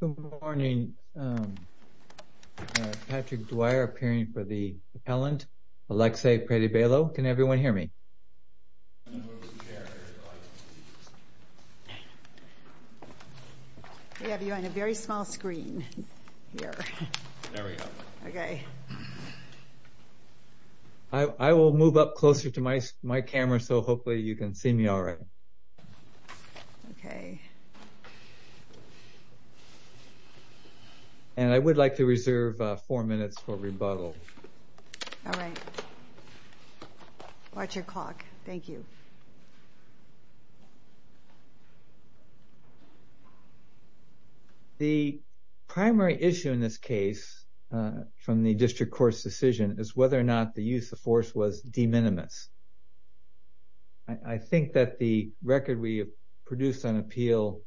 Good morning. Patrick Dwyer appearing for the appellant. Alexey Predybaylo. Can everyone hear me? We have you on a very small screen. I will move up closer to my camera so hopefully you can see me alright. And I would like to reserve four minutes for rebuttal. Alright. Watch your clock. Thank you. The primary issue in this case from the district court's decision is whether or not the use of force was de minimis. I think that the record we have produced on appeal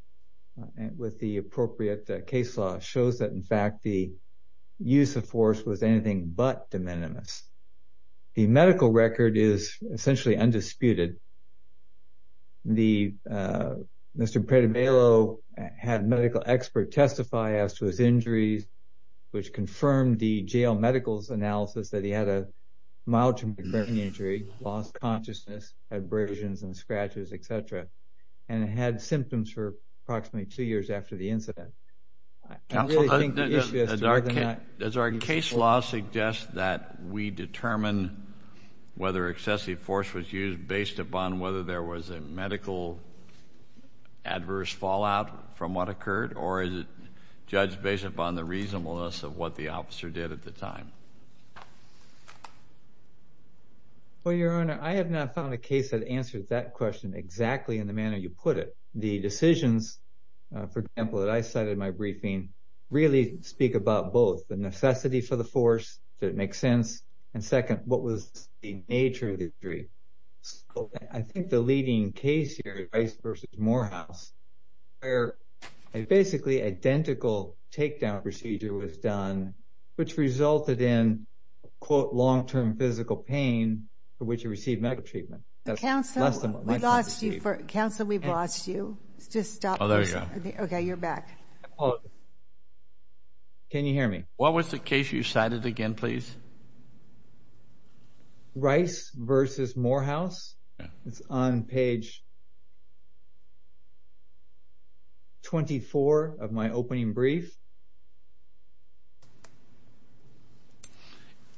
with the appropriate case law shows that in fact the use of force was anything but de minimis. The medical record is essentially undisputed. Mr. Predybaylo had a medical expert testify as to his injuries which confirmed the jail medicals analysis that he had a mild traumatic brain injury, lost consciousness, had abrasions and scratches, etc. And had symptoms for approximately two years after the incident. Counsel, does our case law suggest that we determine whether excessive force was used based upon whether there was a medical adverse fallout from what occurred? Or is it judged based upon the reasonableness of what the officer did at the time? Well, Your Honor, I have not found a case that answers that question exactly in the manner you put it. The decisions, for example, that I cited in my briefing really speak about both the necessity for the force, does it make sense? And second, what was the nature of the injury? I think the leading case here is Rice v. Morehouse where a basically identical takedown procedure was done which resulted in quote long-term physical pain for which he received medical treatment. Counsel, we've lost you. Oh, there you go. Okay, you're back. Can you hear me? What was the case you cited again, please? Rice v. Morehouse? Yeah. It's on page 24 of my opening brief.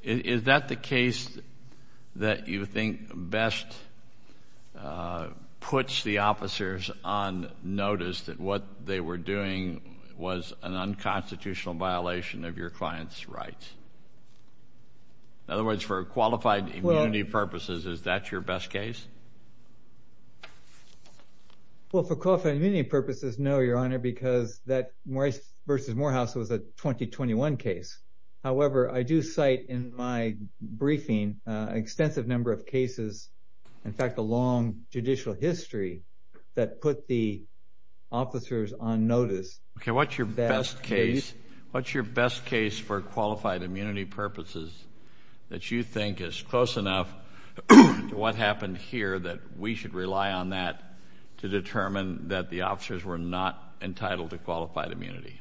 Is that the case that you think best puts the officers on notice that what they were doing was an unconstitutional violation of your client's rights? In other words, for qualified immunity purposes, is that your best case? Well, for qualified immunity purposes, no, Your Honor, because that Rice v. Morehouse was a 2021 case. However, I do cite in my briefing an extensive number of cases, in fact, a long judicial history that put the officers on notice. Okay, what's your best case for qualified immunity purposes that you think is close enough to what happened here that we should rely on that to determine that the officers were not entitled to qualified immunity?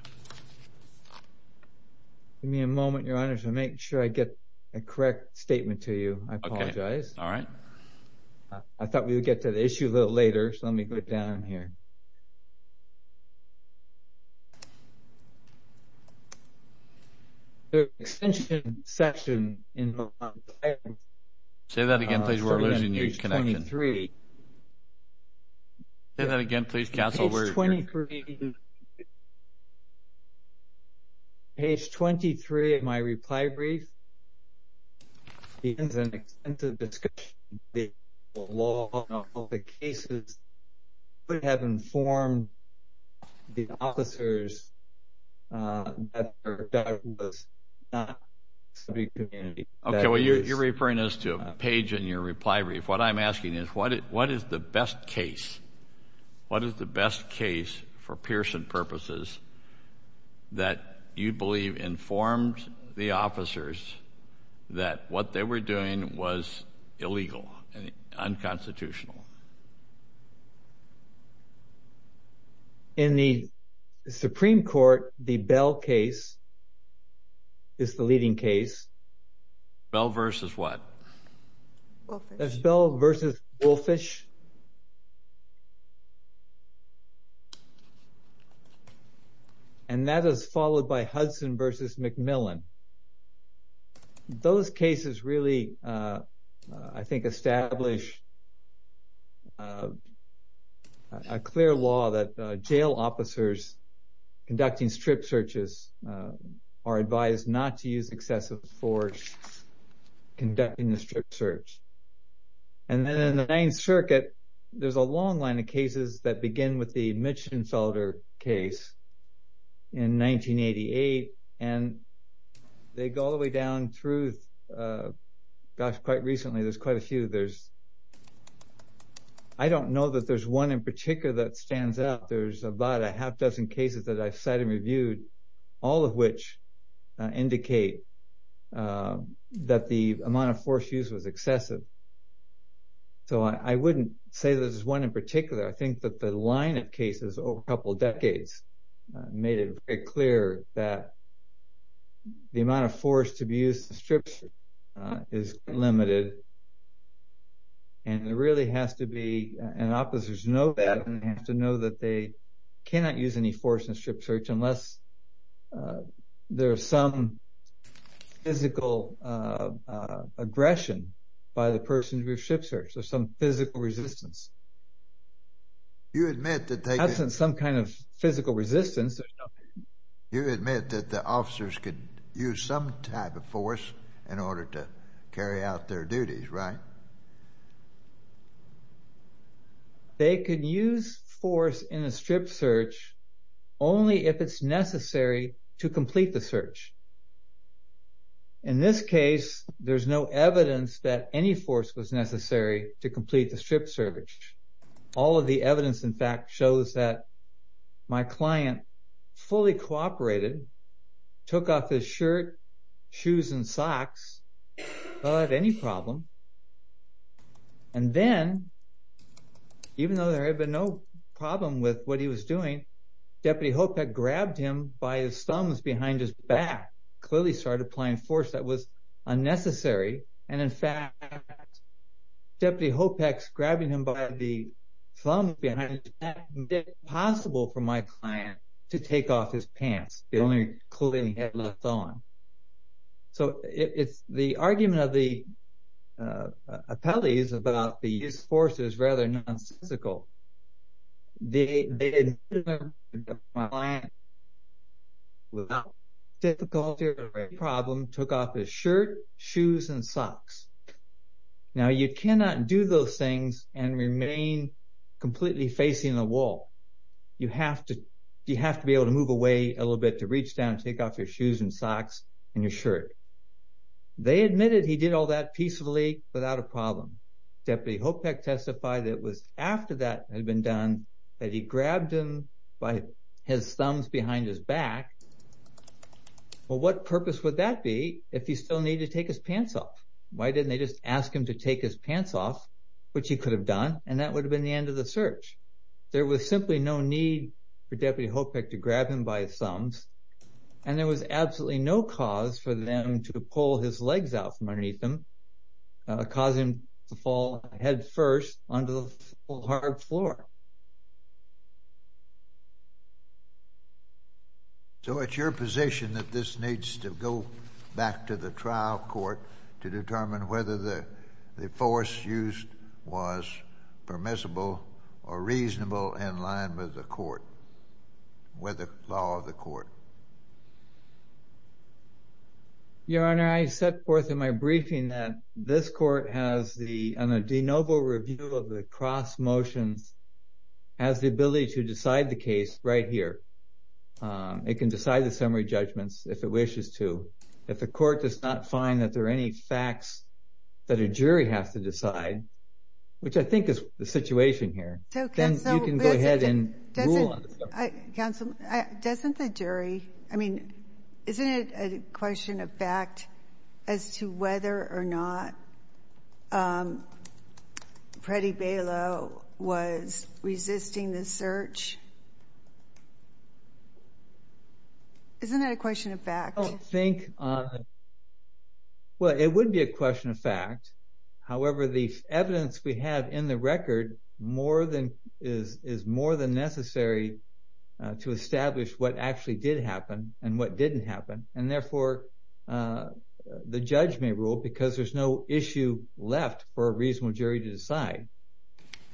Give me a moment, Your Honor, to make sure I get a correct statement to you. I apologize. All right. I thought we would get to the issue a little later, so let me go down here. The extension section in the... Say that again, please. We're losing you. Page 23. Say that again, please, counsel. Page 23 of my reply brief. It's an extensive discussion. The law of the cases would have informed the officers that there was not... Okay, well, you're referring us to a page in your reply brief. What is the best case? What is the best case for Pearson purposes that you believe informed the officers that what they were doing was illegal and unconstitutional? In the Supreme Court, the Bell case is the leading case. Bell versus what? Bell versus Wolfish. And that is followed by Hudson versus McMillan. Those cases really, I think, establish a clear law that jail officers conducting strip searches are advised not to use excessive force conducting the strip search. And then in the Ninth Circuit, there's a long line of cases that begin with the Mitchenfelder case in 1988. And they go all the way down through... Gosh, quite recently, there's quite a few. I don't know that there's one in particular that stands out. There's about a half dozen cases that I've cited and reviewed, all of which indicate that the amount of force used was excessive. So I wouldn't say there's one in particular. I think that the line of cases over a couple of decades made it very clear that the amount of force to be used to strip is limited. And it really has to be... And officers know that, and they have to know that they cannot use any force in a strip search unless there's some physical aggression by the person to do a strip search. There's some physical resistance. You admit that they... That's some kind of physical resistance. You admit that the officers could use some type of force in order to carry out their duties, right? They could use force in a strip search only if it's necessary to complete the search. In this case, there's no evidence that any force was necessary to complete the strip search. All of the evidence, in fact, shows that my client fully cooperated, took off his shirt, shoes, and socks, without any problem. And then, even though there had been no problem with what he was doing, Deputy Hopek grabbed him by his thumbs behind his back, clearly started applying force that was unnecessary. And in fact, Deputy Hopek's grabbing him by the thumb behind his back made it impossible for my client to take off his pants, the only clothing he had left on. So, the argument of the appellees about the use of force is rather nonsensical. They admitted that my client, without difficulty or a problem, took off his shirt, shoes, and socks. Now, you cannot do those things and remain completely facing the wall. You have to be able to move away a little bit to reach down and take off your shoes and socks and your shirt. They admitted he did all that peacefully, without a problem. Deputy Hopek testified that it was after that had been done that he grabbed him by his thumbs behind his back. Well, what purpose would that be if he still needed to take his pants off? Why didn't they just ask him to take his pants off, which he could have done, and that would have been the end of the search? There was simply no need for Deputy Hopek to grab him by his thumbs, and there was absolutely no cause for them to pull his legs out from underneath him, causing him to fall headfirst onto the hard floor. So, it's your position that this needs to go back to the trial court to determine whether the force used was permissible or reasonable in line with the court, with the law of the court? Your Honor, I set forth in my briefing that this court has the, on a de novo review of the cross motions, has the ability to decide the case right here. It can decide the summary judgments if it wishes to. If the court does not find that there are any facts that a jury has to decide, which I think is the situation here, then you can go ahead and rule on it. Counsel, doesn't the jury, I mean, isn't it a question of fact as to whether or not Freddie Balow was resisting the search? Isn't that a question of fact? I don't think, well, it would be a question of fact. However, the evidence we have in the record is more than necessary to establish what actually did happen and what didn't happen. And therefore, the judge may rule because there's no issue left for a reasonable jury to decide.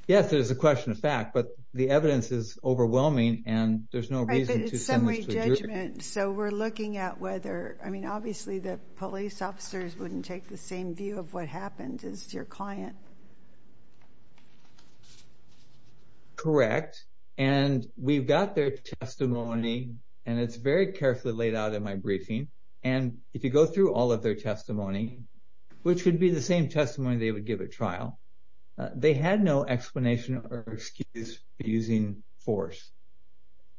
Yes, it is a question of fact, but the evidence is overwhelming and there's no reason to send this to the jury. So we're looking at whether, I mean, obviously the police officers wouldn't take the same view of what happened as your client. Correct. And we've got their testimony and it's very carefully laid out in my briefing. And if you go through all of their testimony, which would be the same testimony they would give at trial, they had no explanation or excuse for using force.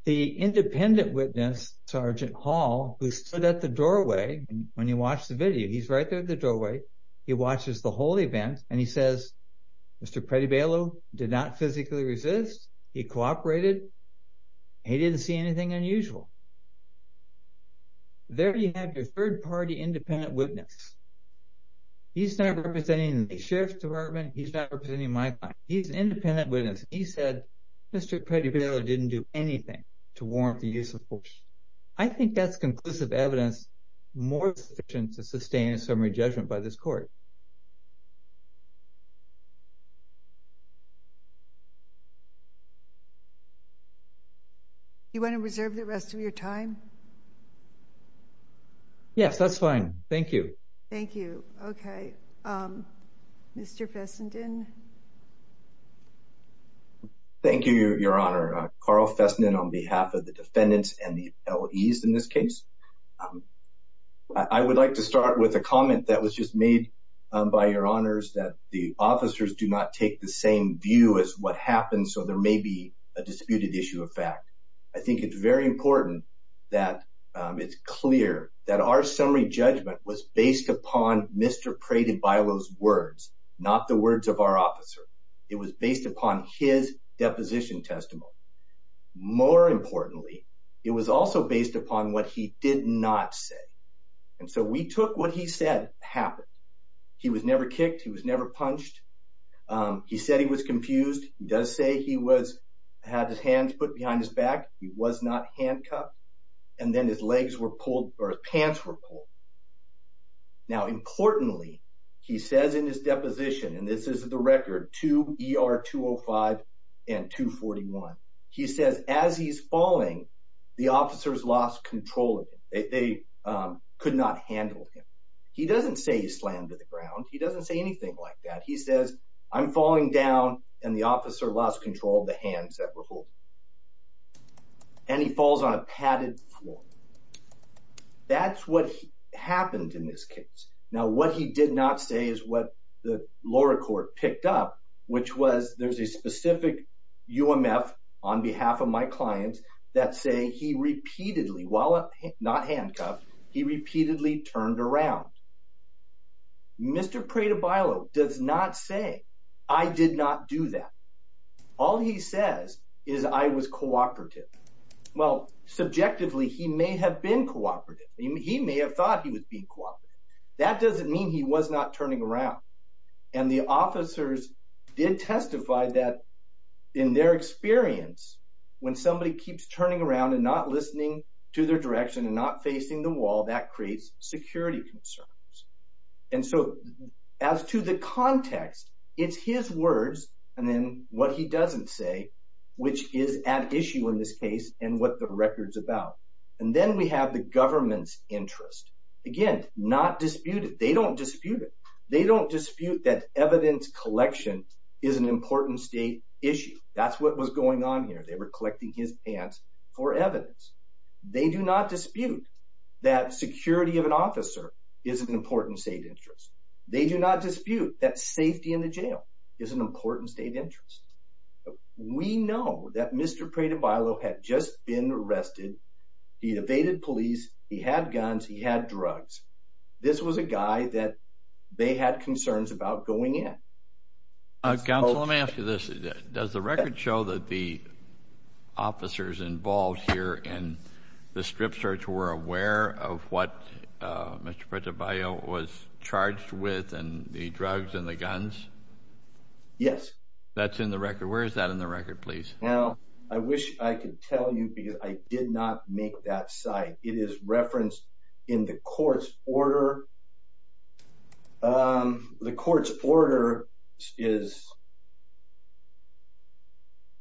The independent witness, Sergeant Hall, who stood at the doorway when he watched the video, he's right there at the doorway. He watches the whole event and he says, Mr. Freddie Balow did not physically resist. He cooperated. He didn't see anything unusual. There you have your third-party independent witness. He's not representing the sheriff's department. He's not representing my client. He's an independent witness. He said, Mr. Freddie Balow didn't do anything to warrant the use of force. I think that's conclusive evidence more sufficient to sustain a summary judgment by this court. You want to reserve the rest of your time? Yes, that's fine. Thank you. Thank you. Okay. Mr. Fessenden. Thank you, Your Honor. Carl Fessenden on behalf of the defendants and the LEs in this case. I would like to start with a comment that was just made by Your Honors, that the officers do not take the same view as what happened, so there may be a disputed issue of fact. I think it's very important that it's clear that our summary judgment was based upon Mr. Freddie Balow's words, not the words of our officer. It was based upon his deposition testimony. More importantly, it was also based upon what he did not say, and so we took what he said happened. He was never kicked. He was never punched. He said he was confused. He does say he had his hands put behind his back. He was not handcuffed, and then his legs were pulled, or his pants were pulled. Now, importantly, he says in his deposition, and this is the record, 2 ER 205 and 241, he says as he's falling, the officers lost control of him. They could not handle him. He doesn't say he slammed to the ground. He doesn't say anything like that. He says, I'm falling down, and the officer lost control of the hands that were holding him, and he falls on a padded floor. That's what happened in this case. Now, what he did not say is what the lower court picked up, which was there's a specific UMF on behalf of my clients that say he repeatedly, while not handcuffed, he repeatedly turned around. Mr. Prado-Bailo does not say I did not do that. All he says is I was cooperative. Well, subjectively, he may have been cooperative. He may have thought he was being cooperative. That doesn't mean he was not turning around, and the officers did testify that in their experience, when somebody keeps turning around and not listening to their direction and not facing the wall, that creates security concerns. And so, as to the context, it's his words and then what he doesn't say, which is at issue in this case and what the record's about. And then we have the government's interest. Again, not disputed. They don't dispute it. They don't dispute that evidence collection is an important state issue. That's what was going on here. They were collecting his pants for evidence. They do not dispute that security of an officer is an important state interest. They do not dispute that safety in the jail is an important state interest. We know that Mr. Prado-Bailo had just been arrested. He evaded police. He had guns. He had drugs. This was a guy that they had concerns about going in. Counsel, let me ask you this. Does the record show that the officers involved here in the strip search were aware of what Mr. Prado-Bailo was charged with and the drugs and the guns? Yes. That's in the record. Where is that in the record, please? Now, I wish I could tell you because I did not make that site. It is referenced in the court's order. The court's order is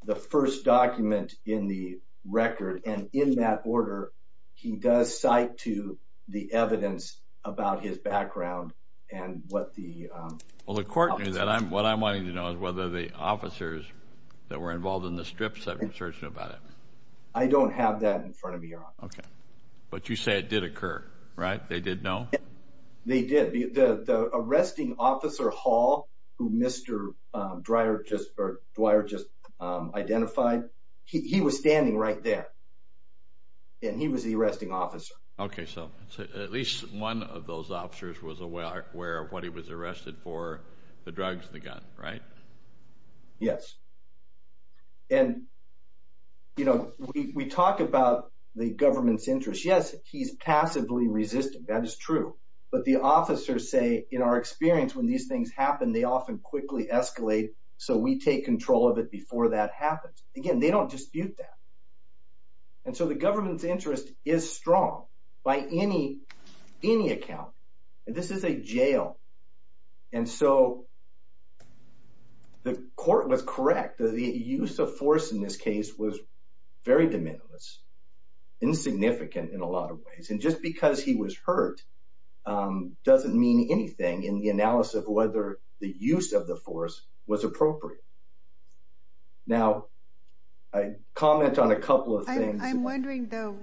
the first document in the record. And in that order, he does cite to the evidence about his background and what the... I don't have that in front of me, Your Honor. Okay. But you say it did occur, right? They did know? They did. The arresting officer, Hall, who Mr. Dwyer just identified, he was standing right there. And he was the arresting officer. Okay. So at least one of those officers was aware of what he was arrested for, the drugs and the gun, right? Yes. And, you know, we talk about the government's interest. Yes, he's passively resistant. That is true. But the officers say, in our experience, when these things happen, they often quickly escalate, so we take control of it before that happens. Again, they don't dispute that. And so the government's interest is strong by any account. And this is a jail. And so the court was correct. The use of force in this case was very de minimis, insignificant in a lot of ways. And just because he was hurt doesn't mean anything in the analysis of whether the use of the force was appropriate. Now, a comment on a couple of things. I'm wondering, though,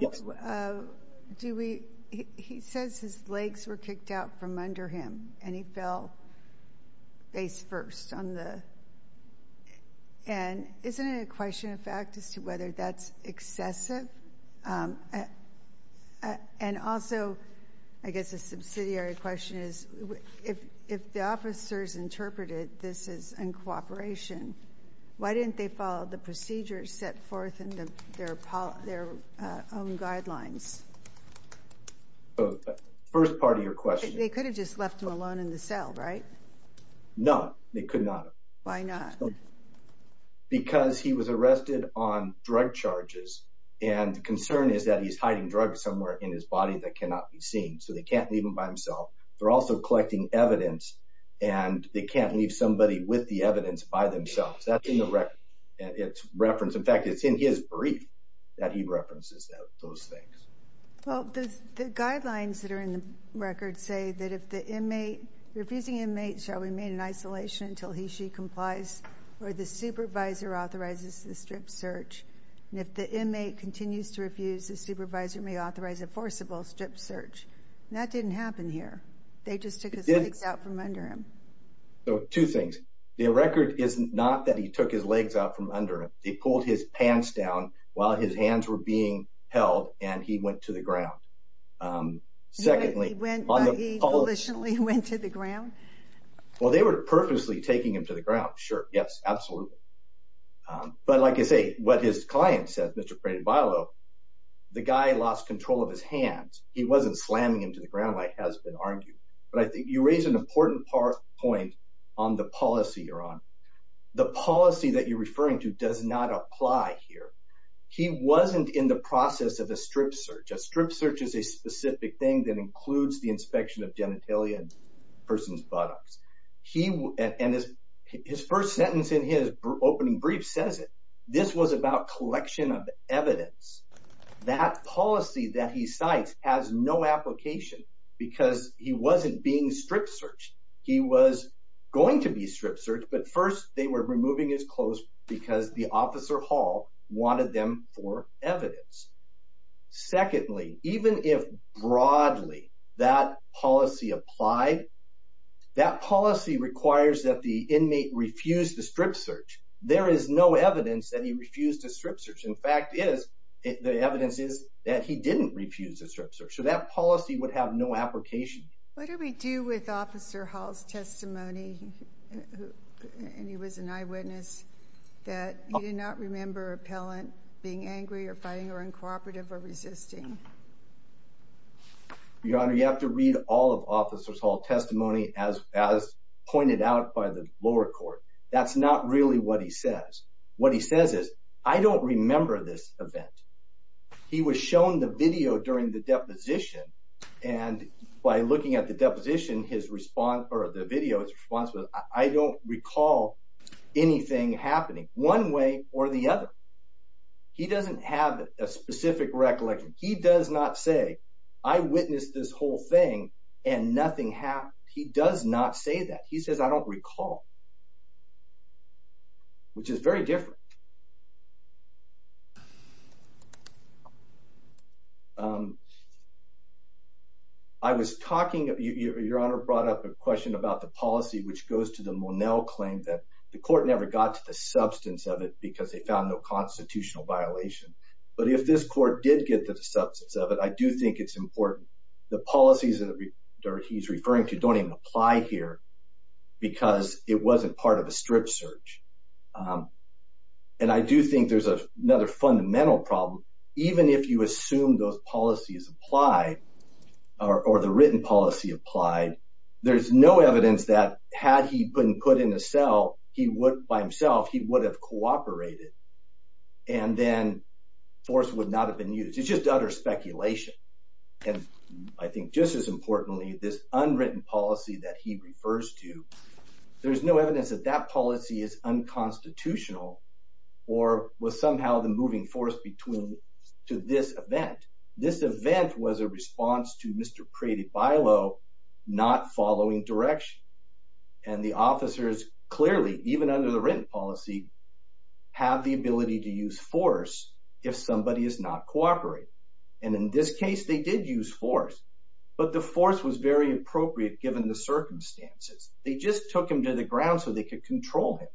he says his legs were kicked out from under him, and he fell face first. And isn't it a question of fact as to whether that's excessive? And also, I guess a subsidiary question is, if the officers interpreted this as uncooperation, why didn't they follow the procedures set forth in their own guidelines? First part of your question. They could have just left him alone in the cell, right? No, they could not. Why not? Because he was arrested on drug charges, and the concern is that he's hiding drugs somewhere in his body that cannot be seen. So they can't leave him by himself. They're also collecting evidence, and they can't leave somebody with the evidence by themselves. That's in the record. In fact, it's in his brief that he references those things. Well, the guidelines that are in the record say that if the refusing inmate shall remain in isolation until he or she complies or the supervisor authorizes the strip search. And if the inmate continues to refuse, the supervisor may authorize a forcible strip search. That didn't happen here. They just took his legs out from under him. So two things. The record is not that he took his legs out from under him. They pulled his pants down while his hands were being held, and he went to the ground. He went, he volitionally went to the ground? Well, they were purposely taking him to the ground, sure. Yes, absolutely. But like I say, what his client said, Mr. Prado-Bailão, the guy lost control of his hands. He wasn't slamming him to the ground like has been argued. But I think you raise an important point on the policy, Your Honor. The policy that you're referring to does not apply here. He wasn't in the process of a strip search. A strip search is a specific thing that includes the inspection of genitalia and a person's buttocks. And his first sentence in his opening brief says it. This was about collection of evidence. That policy that he cites has no application because he wasn't being strip searched. He was going to be strip searched, but first they were removing his clothes because the officer hall wanted them for evidence. Secondly, even if broadly that policy applied, that policy requires that the inmate refuse the strip search. There is no evidence that he refused a strip search. In fact, the evidence is that he didn't refuse a strip search. So that policy would have no application. What do we do with Officer Hall's testimony, and he was an eyewitness, that he did not remember an appellant being angry or fighting or uncooperative or resisting? Your Honor, you have to read all of Officer Hall's testimony as pointed out by the lower court. That's not really what he says. What he says is, I don't remember this event. He was shown the video during the deposition. And by looking at the deposition, his response, or the video, his response was, I don't recall anything happening one way or the other. He doesn't have a specific recollection. He does not say, I witnessed this whole thing and nothing happened. He does not say that. He says, I don't recall, which is very different. I was talking, Your Honor brought up a question about the policy, which goes to the Monell claim that the court never got to the substance of it because they found no constitutional violation. But if this court did get to the substance of it, I do think it's important. The policies that he's referring to don't even apply here because it wasn't part of a strip search. And I do think there's another fundamental problem. Even if you assume those policies apply, or the written policy applied, there's no evidence that had he been put in a cell, he would, by himself, he would have cooperated. And then force would not have been used. It's just utter speculation. And I think just as importantly, this unwritten policy that he refers to, there's no evidence that that policy is unconstitutional or was somehow the moving force between, to this event. This event was a response to Mr. Crady Bilow not following direction. And the officers clearly, even under the written policy, have the ability to use force if somebody is not cooperating. And in this case, they did use force. But the force was very appropriate given the circumstances. They just took him to the ground so they could control him.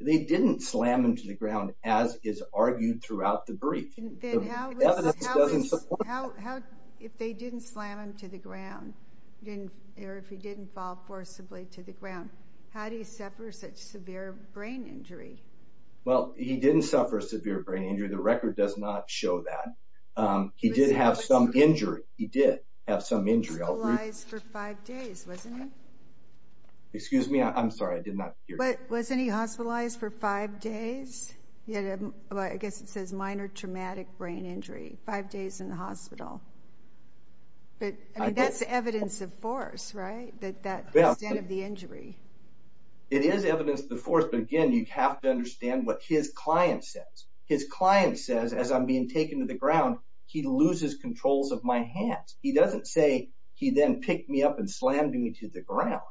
They didn't slam him to the ground as is argued throughout the brief. The evidence doesn't support that. If they didn't slam him to the ground, or if he didn't fall forcibly to the ground, how do you suffer such severe brain injury? Well, he didn't suffer severe brain injury. The record does not show that. He did have some injury. He did have some injury. He was hospitalized for five days, wasn't he? Excuse me. I'm sorry. I did not hear you. Wasn't he hospitalized for five days? I guess it says minor traumatic brain injury. Five days in the hospital. But that's evidence of force, right? That's the extent of the injury. It is evidence of the force. But again, you have to understand what his client says. His client says, as I'm being taken to the ground, he loses control of my hands. He doesn't say he then picked me up and slammed me to the ground.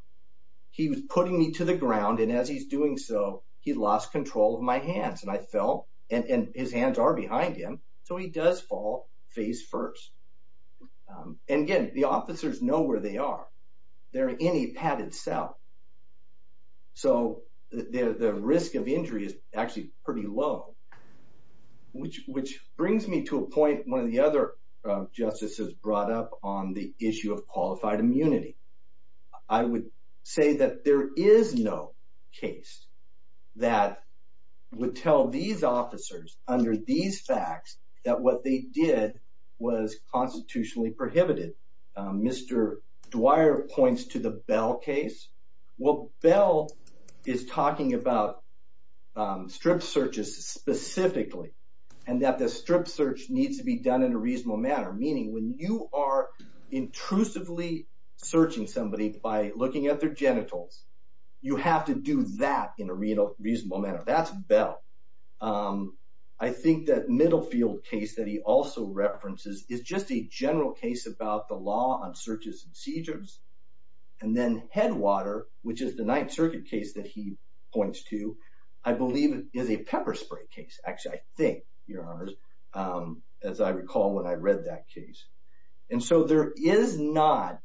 He was putting me to the ground. And as he's doing so, he lost control of my hands. And I fell, and his hands are behind him. So he does fall face first. And again, the officers know where they are. They're in a padded cell. So the risk of injury is actually pretty low. Which brings me to a point one of the other justices brought up on the issue of qualified immunity. I would say that there is no case that would tell these officers under these facts that what they did was constitutionally prohibited. Mr. Dwyer points to the Bell case. Well, Bell is talking about strip searches specifically. And that the strip search needs to be done in a reasonable manner. Meaning when you are intrusively searching somebody by looking at their genitals, you have to do that in a reasonable manner. That's Bell. I think that Middlefield case that he also references is just a general case about the law on searches and seizures. And then Headwater, which is the Ninth Circuit case that he points to, I believe is a pepper spray case. Actually, I think, Your Honors, as I recall when I read that case. And so there is not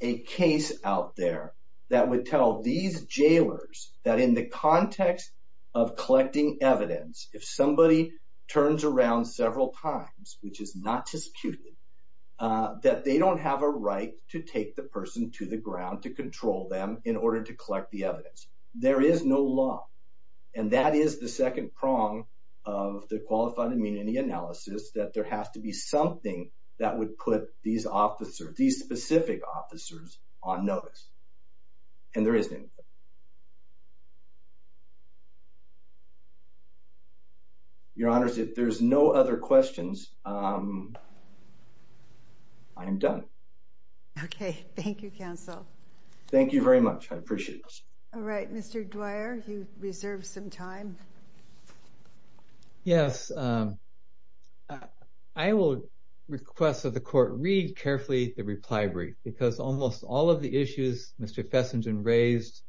a case out there that would tell these jailers that in the context of collecting evidence, if somebody turns around several times, which is not disputed, that they don't have a right to take the person to the ground to control them in order to collect the evidence. There is no law. And that is the second prong of the qualified immunity analysis, that there has to be something that would put these officers, these specific officers on notice. And there isn't. Your Honors, if there's no other questions, I am done. Okay. Thank you, Counsel. Thank you very much. I appreciate it. All right, Mr. Dwyer, you reserve some time. Yes. I will request that the Court read carefully the reply brief because almost all of the issues Mr. Fessenden raised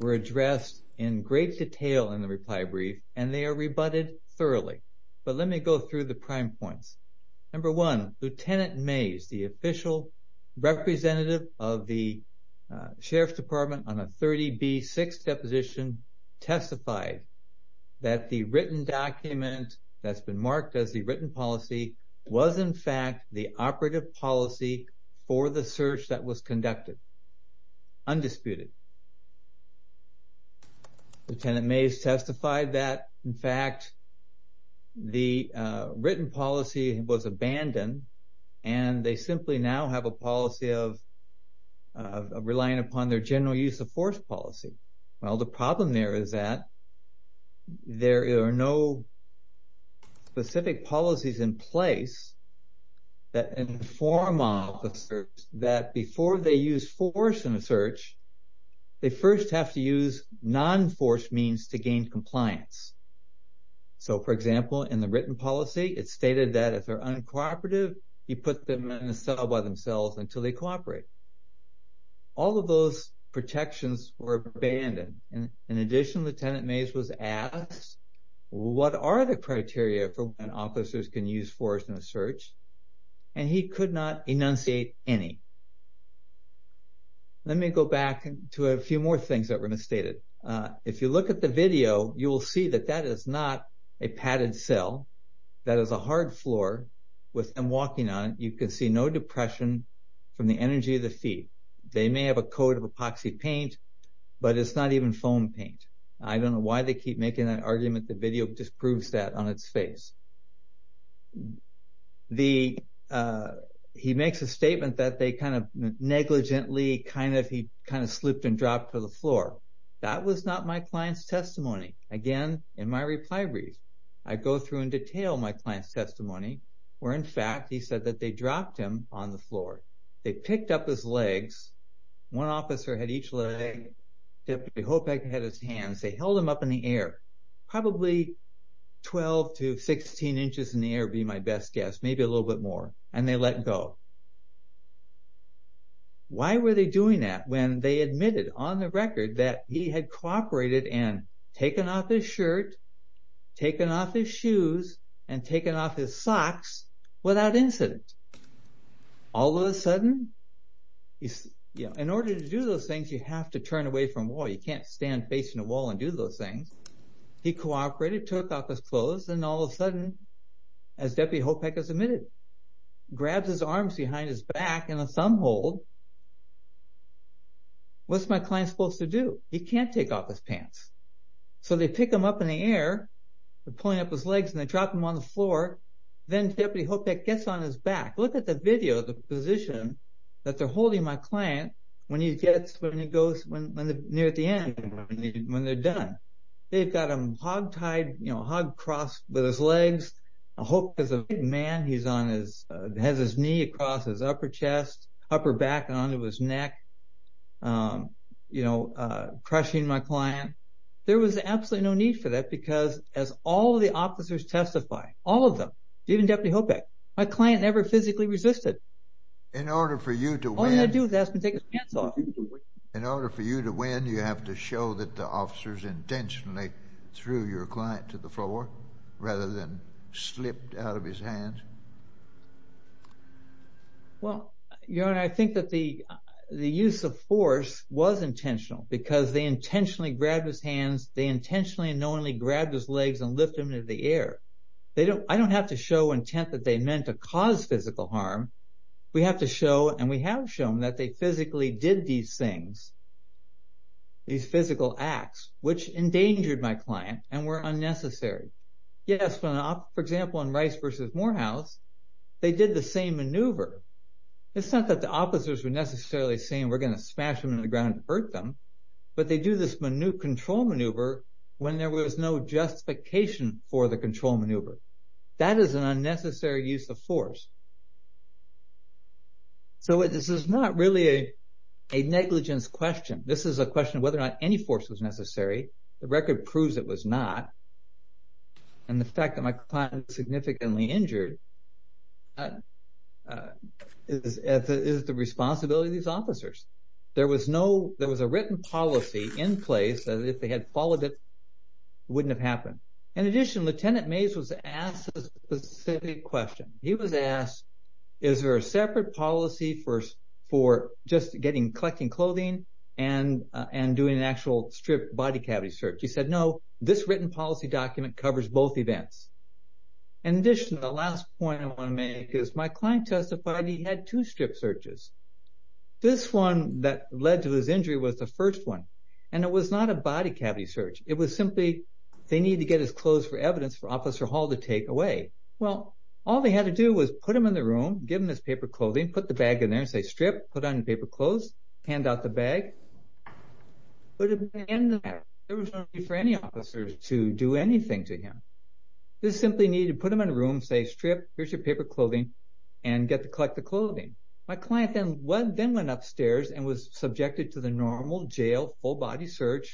were addressed in great detail in the reply brief and they are rebutted thoroughly. But let me go through the prime points. Number one, Lieutenant Mays, the official representative of the Sheriff's Department in the ABB 6th deposition testified that the written document that's been marked as the written policy was in fact the operative policy for the search that was conducted, undisputed. Lieutenant Mays testified that, in fact, the written policy was abandoned and they simply now have a policy of relying upon their general use of force policy. Well, the problem there is that there are no specific policies in place that inform of the search that before they use force in a search, they first have to use non-force means to gain compliance. So, for example, in the written policy, it's stated that if they're uncooperative, you put them in a cell by themselves until they cooperate. All of those protections were abandoned. In addition, Lieutenant Mays was asked, what are the criteria for when officers can use force in a search? And he could not enunciate any. Let me go back to a few more things that were misstated. If you look at the video, you will see that that is not a padded cell. That is a hard floor with them walking on it. You can see no depression from the energy of the feet. They may have a coat of epoxy paint, but it's not even foam paint. I don't know why they keep making that argument. The video just proves that on its face. He makes a statement that they kind of negligently, he kind of slipped and dropped to the floor. That was not my client's testimony. Again, in my reply brief, I go through in detail my client's testimony where in fact he said that they dropped him on the floor. They picked up his legs. One officer had each leg. Deputy Hopek had his hands. They held him up in the air, probably 12 to 16 inches in the air would be my best guess. Maybe a little bit more. And they let go. Why were they doing that when they admitted on the record that he had cooperated and taken off his shirt, taken off his shoes, and taken off his socks without incident? All of a sudden, in order to do those things, you have to turn away from a wall. You can't stand facing a wall and do those things. He cooperated, took off his clothes, and all of a sudden, as Deputy Hopek has admitted, grabs his arms behind his back in a thumb hold. What's my client supposed to do? He can't take off his pants. So they pick him up in the air. They're pulling up his legs and they drop him on the floor. Then Deputy Hopek gets on his back. Look at the video of the position that they're holding my client when he gets near the end, when they're done. They've got him hog-tied, hog-crossed with his legs, a hook as a man. He has his knee across his upper chest, upper back onto his neck, crushing my client. There was absolutely no need for that as all the officers testify, all of them, even Deputy Hopek. My client never physically resisted. In order for you to win... All he had to do was ask me to take his pants off. In order for you to win, you have to show that the officers intentionally threw your client to the floor rather than slipped out of his hands? Well, Your Honor, I think that the use of force was intentional because they intentionally grabbed his hands. They intentionally and knowingly grabbed his legs and lifted him into the air. I don't have to show intent that they meant to cause physical harm. We have to show, and we have shown, that they physically did these things, these physical acts, which endangered my client and were unnecessary. Yes, for example, in Rice v. Morehouse, they did the same maneuver. It's not that the officers were necessarily saying that they did the maneuver when there was no justification for the control maneuver. That is an unnecessary use of force. So this is not really a negligence question. This is a question of whether or not any force was necessary. The record proves it was not. And the fact that my client was significantly injured is the responsibility of these officers. There was a written policy in place that if they had followed it, it wouldn't have happened. In addition, Lieutenant Mays was asked a specific question. He was asked, is there a separate policy for just collecting clothing and doing an actual strip body cavity search? He said, no, this written policy document covers both events. In addition, the last point I want to make is my client testified he had two strip searches. This one that led to his injury and it was not a body cavity search. It was simply they needed to get his clothes for evidence for Officer Hall to take away. Well, all they had to do was put him in the room, give him his paper clothing, put the bag in there and say strip, put on your paper clothes, hand out the bag. But at the end of that, there was no need for any officers to do anything to him. They simply needed to put him in a room, say strip, here's your paper clothing and hand it over to Officer Hall. And that's the end of my research.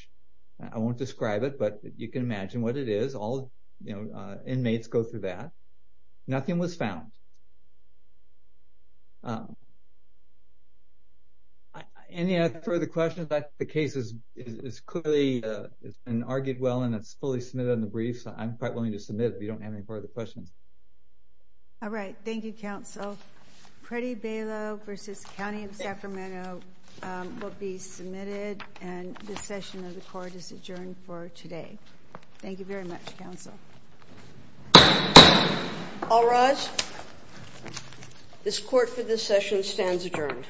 I won't describe it, but you can imagine what it is. All inmates go through that. Nothing was found. Any further questions? The case is clearly it's been argued well and it's fully submitted in the brief. I'm quite willing to submit it to the court. Thank you very much. Thank you. All right. This court for this session stands adjourned. Thank you.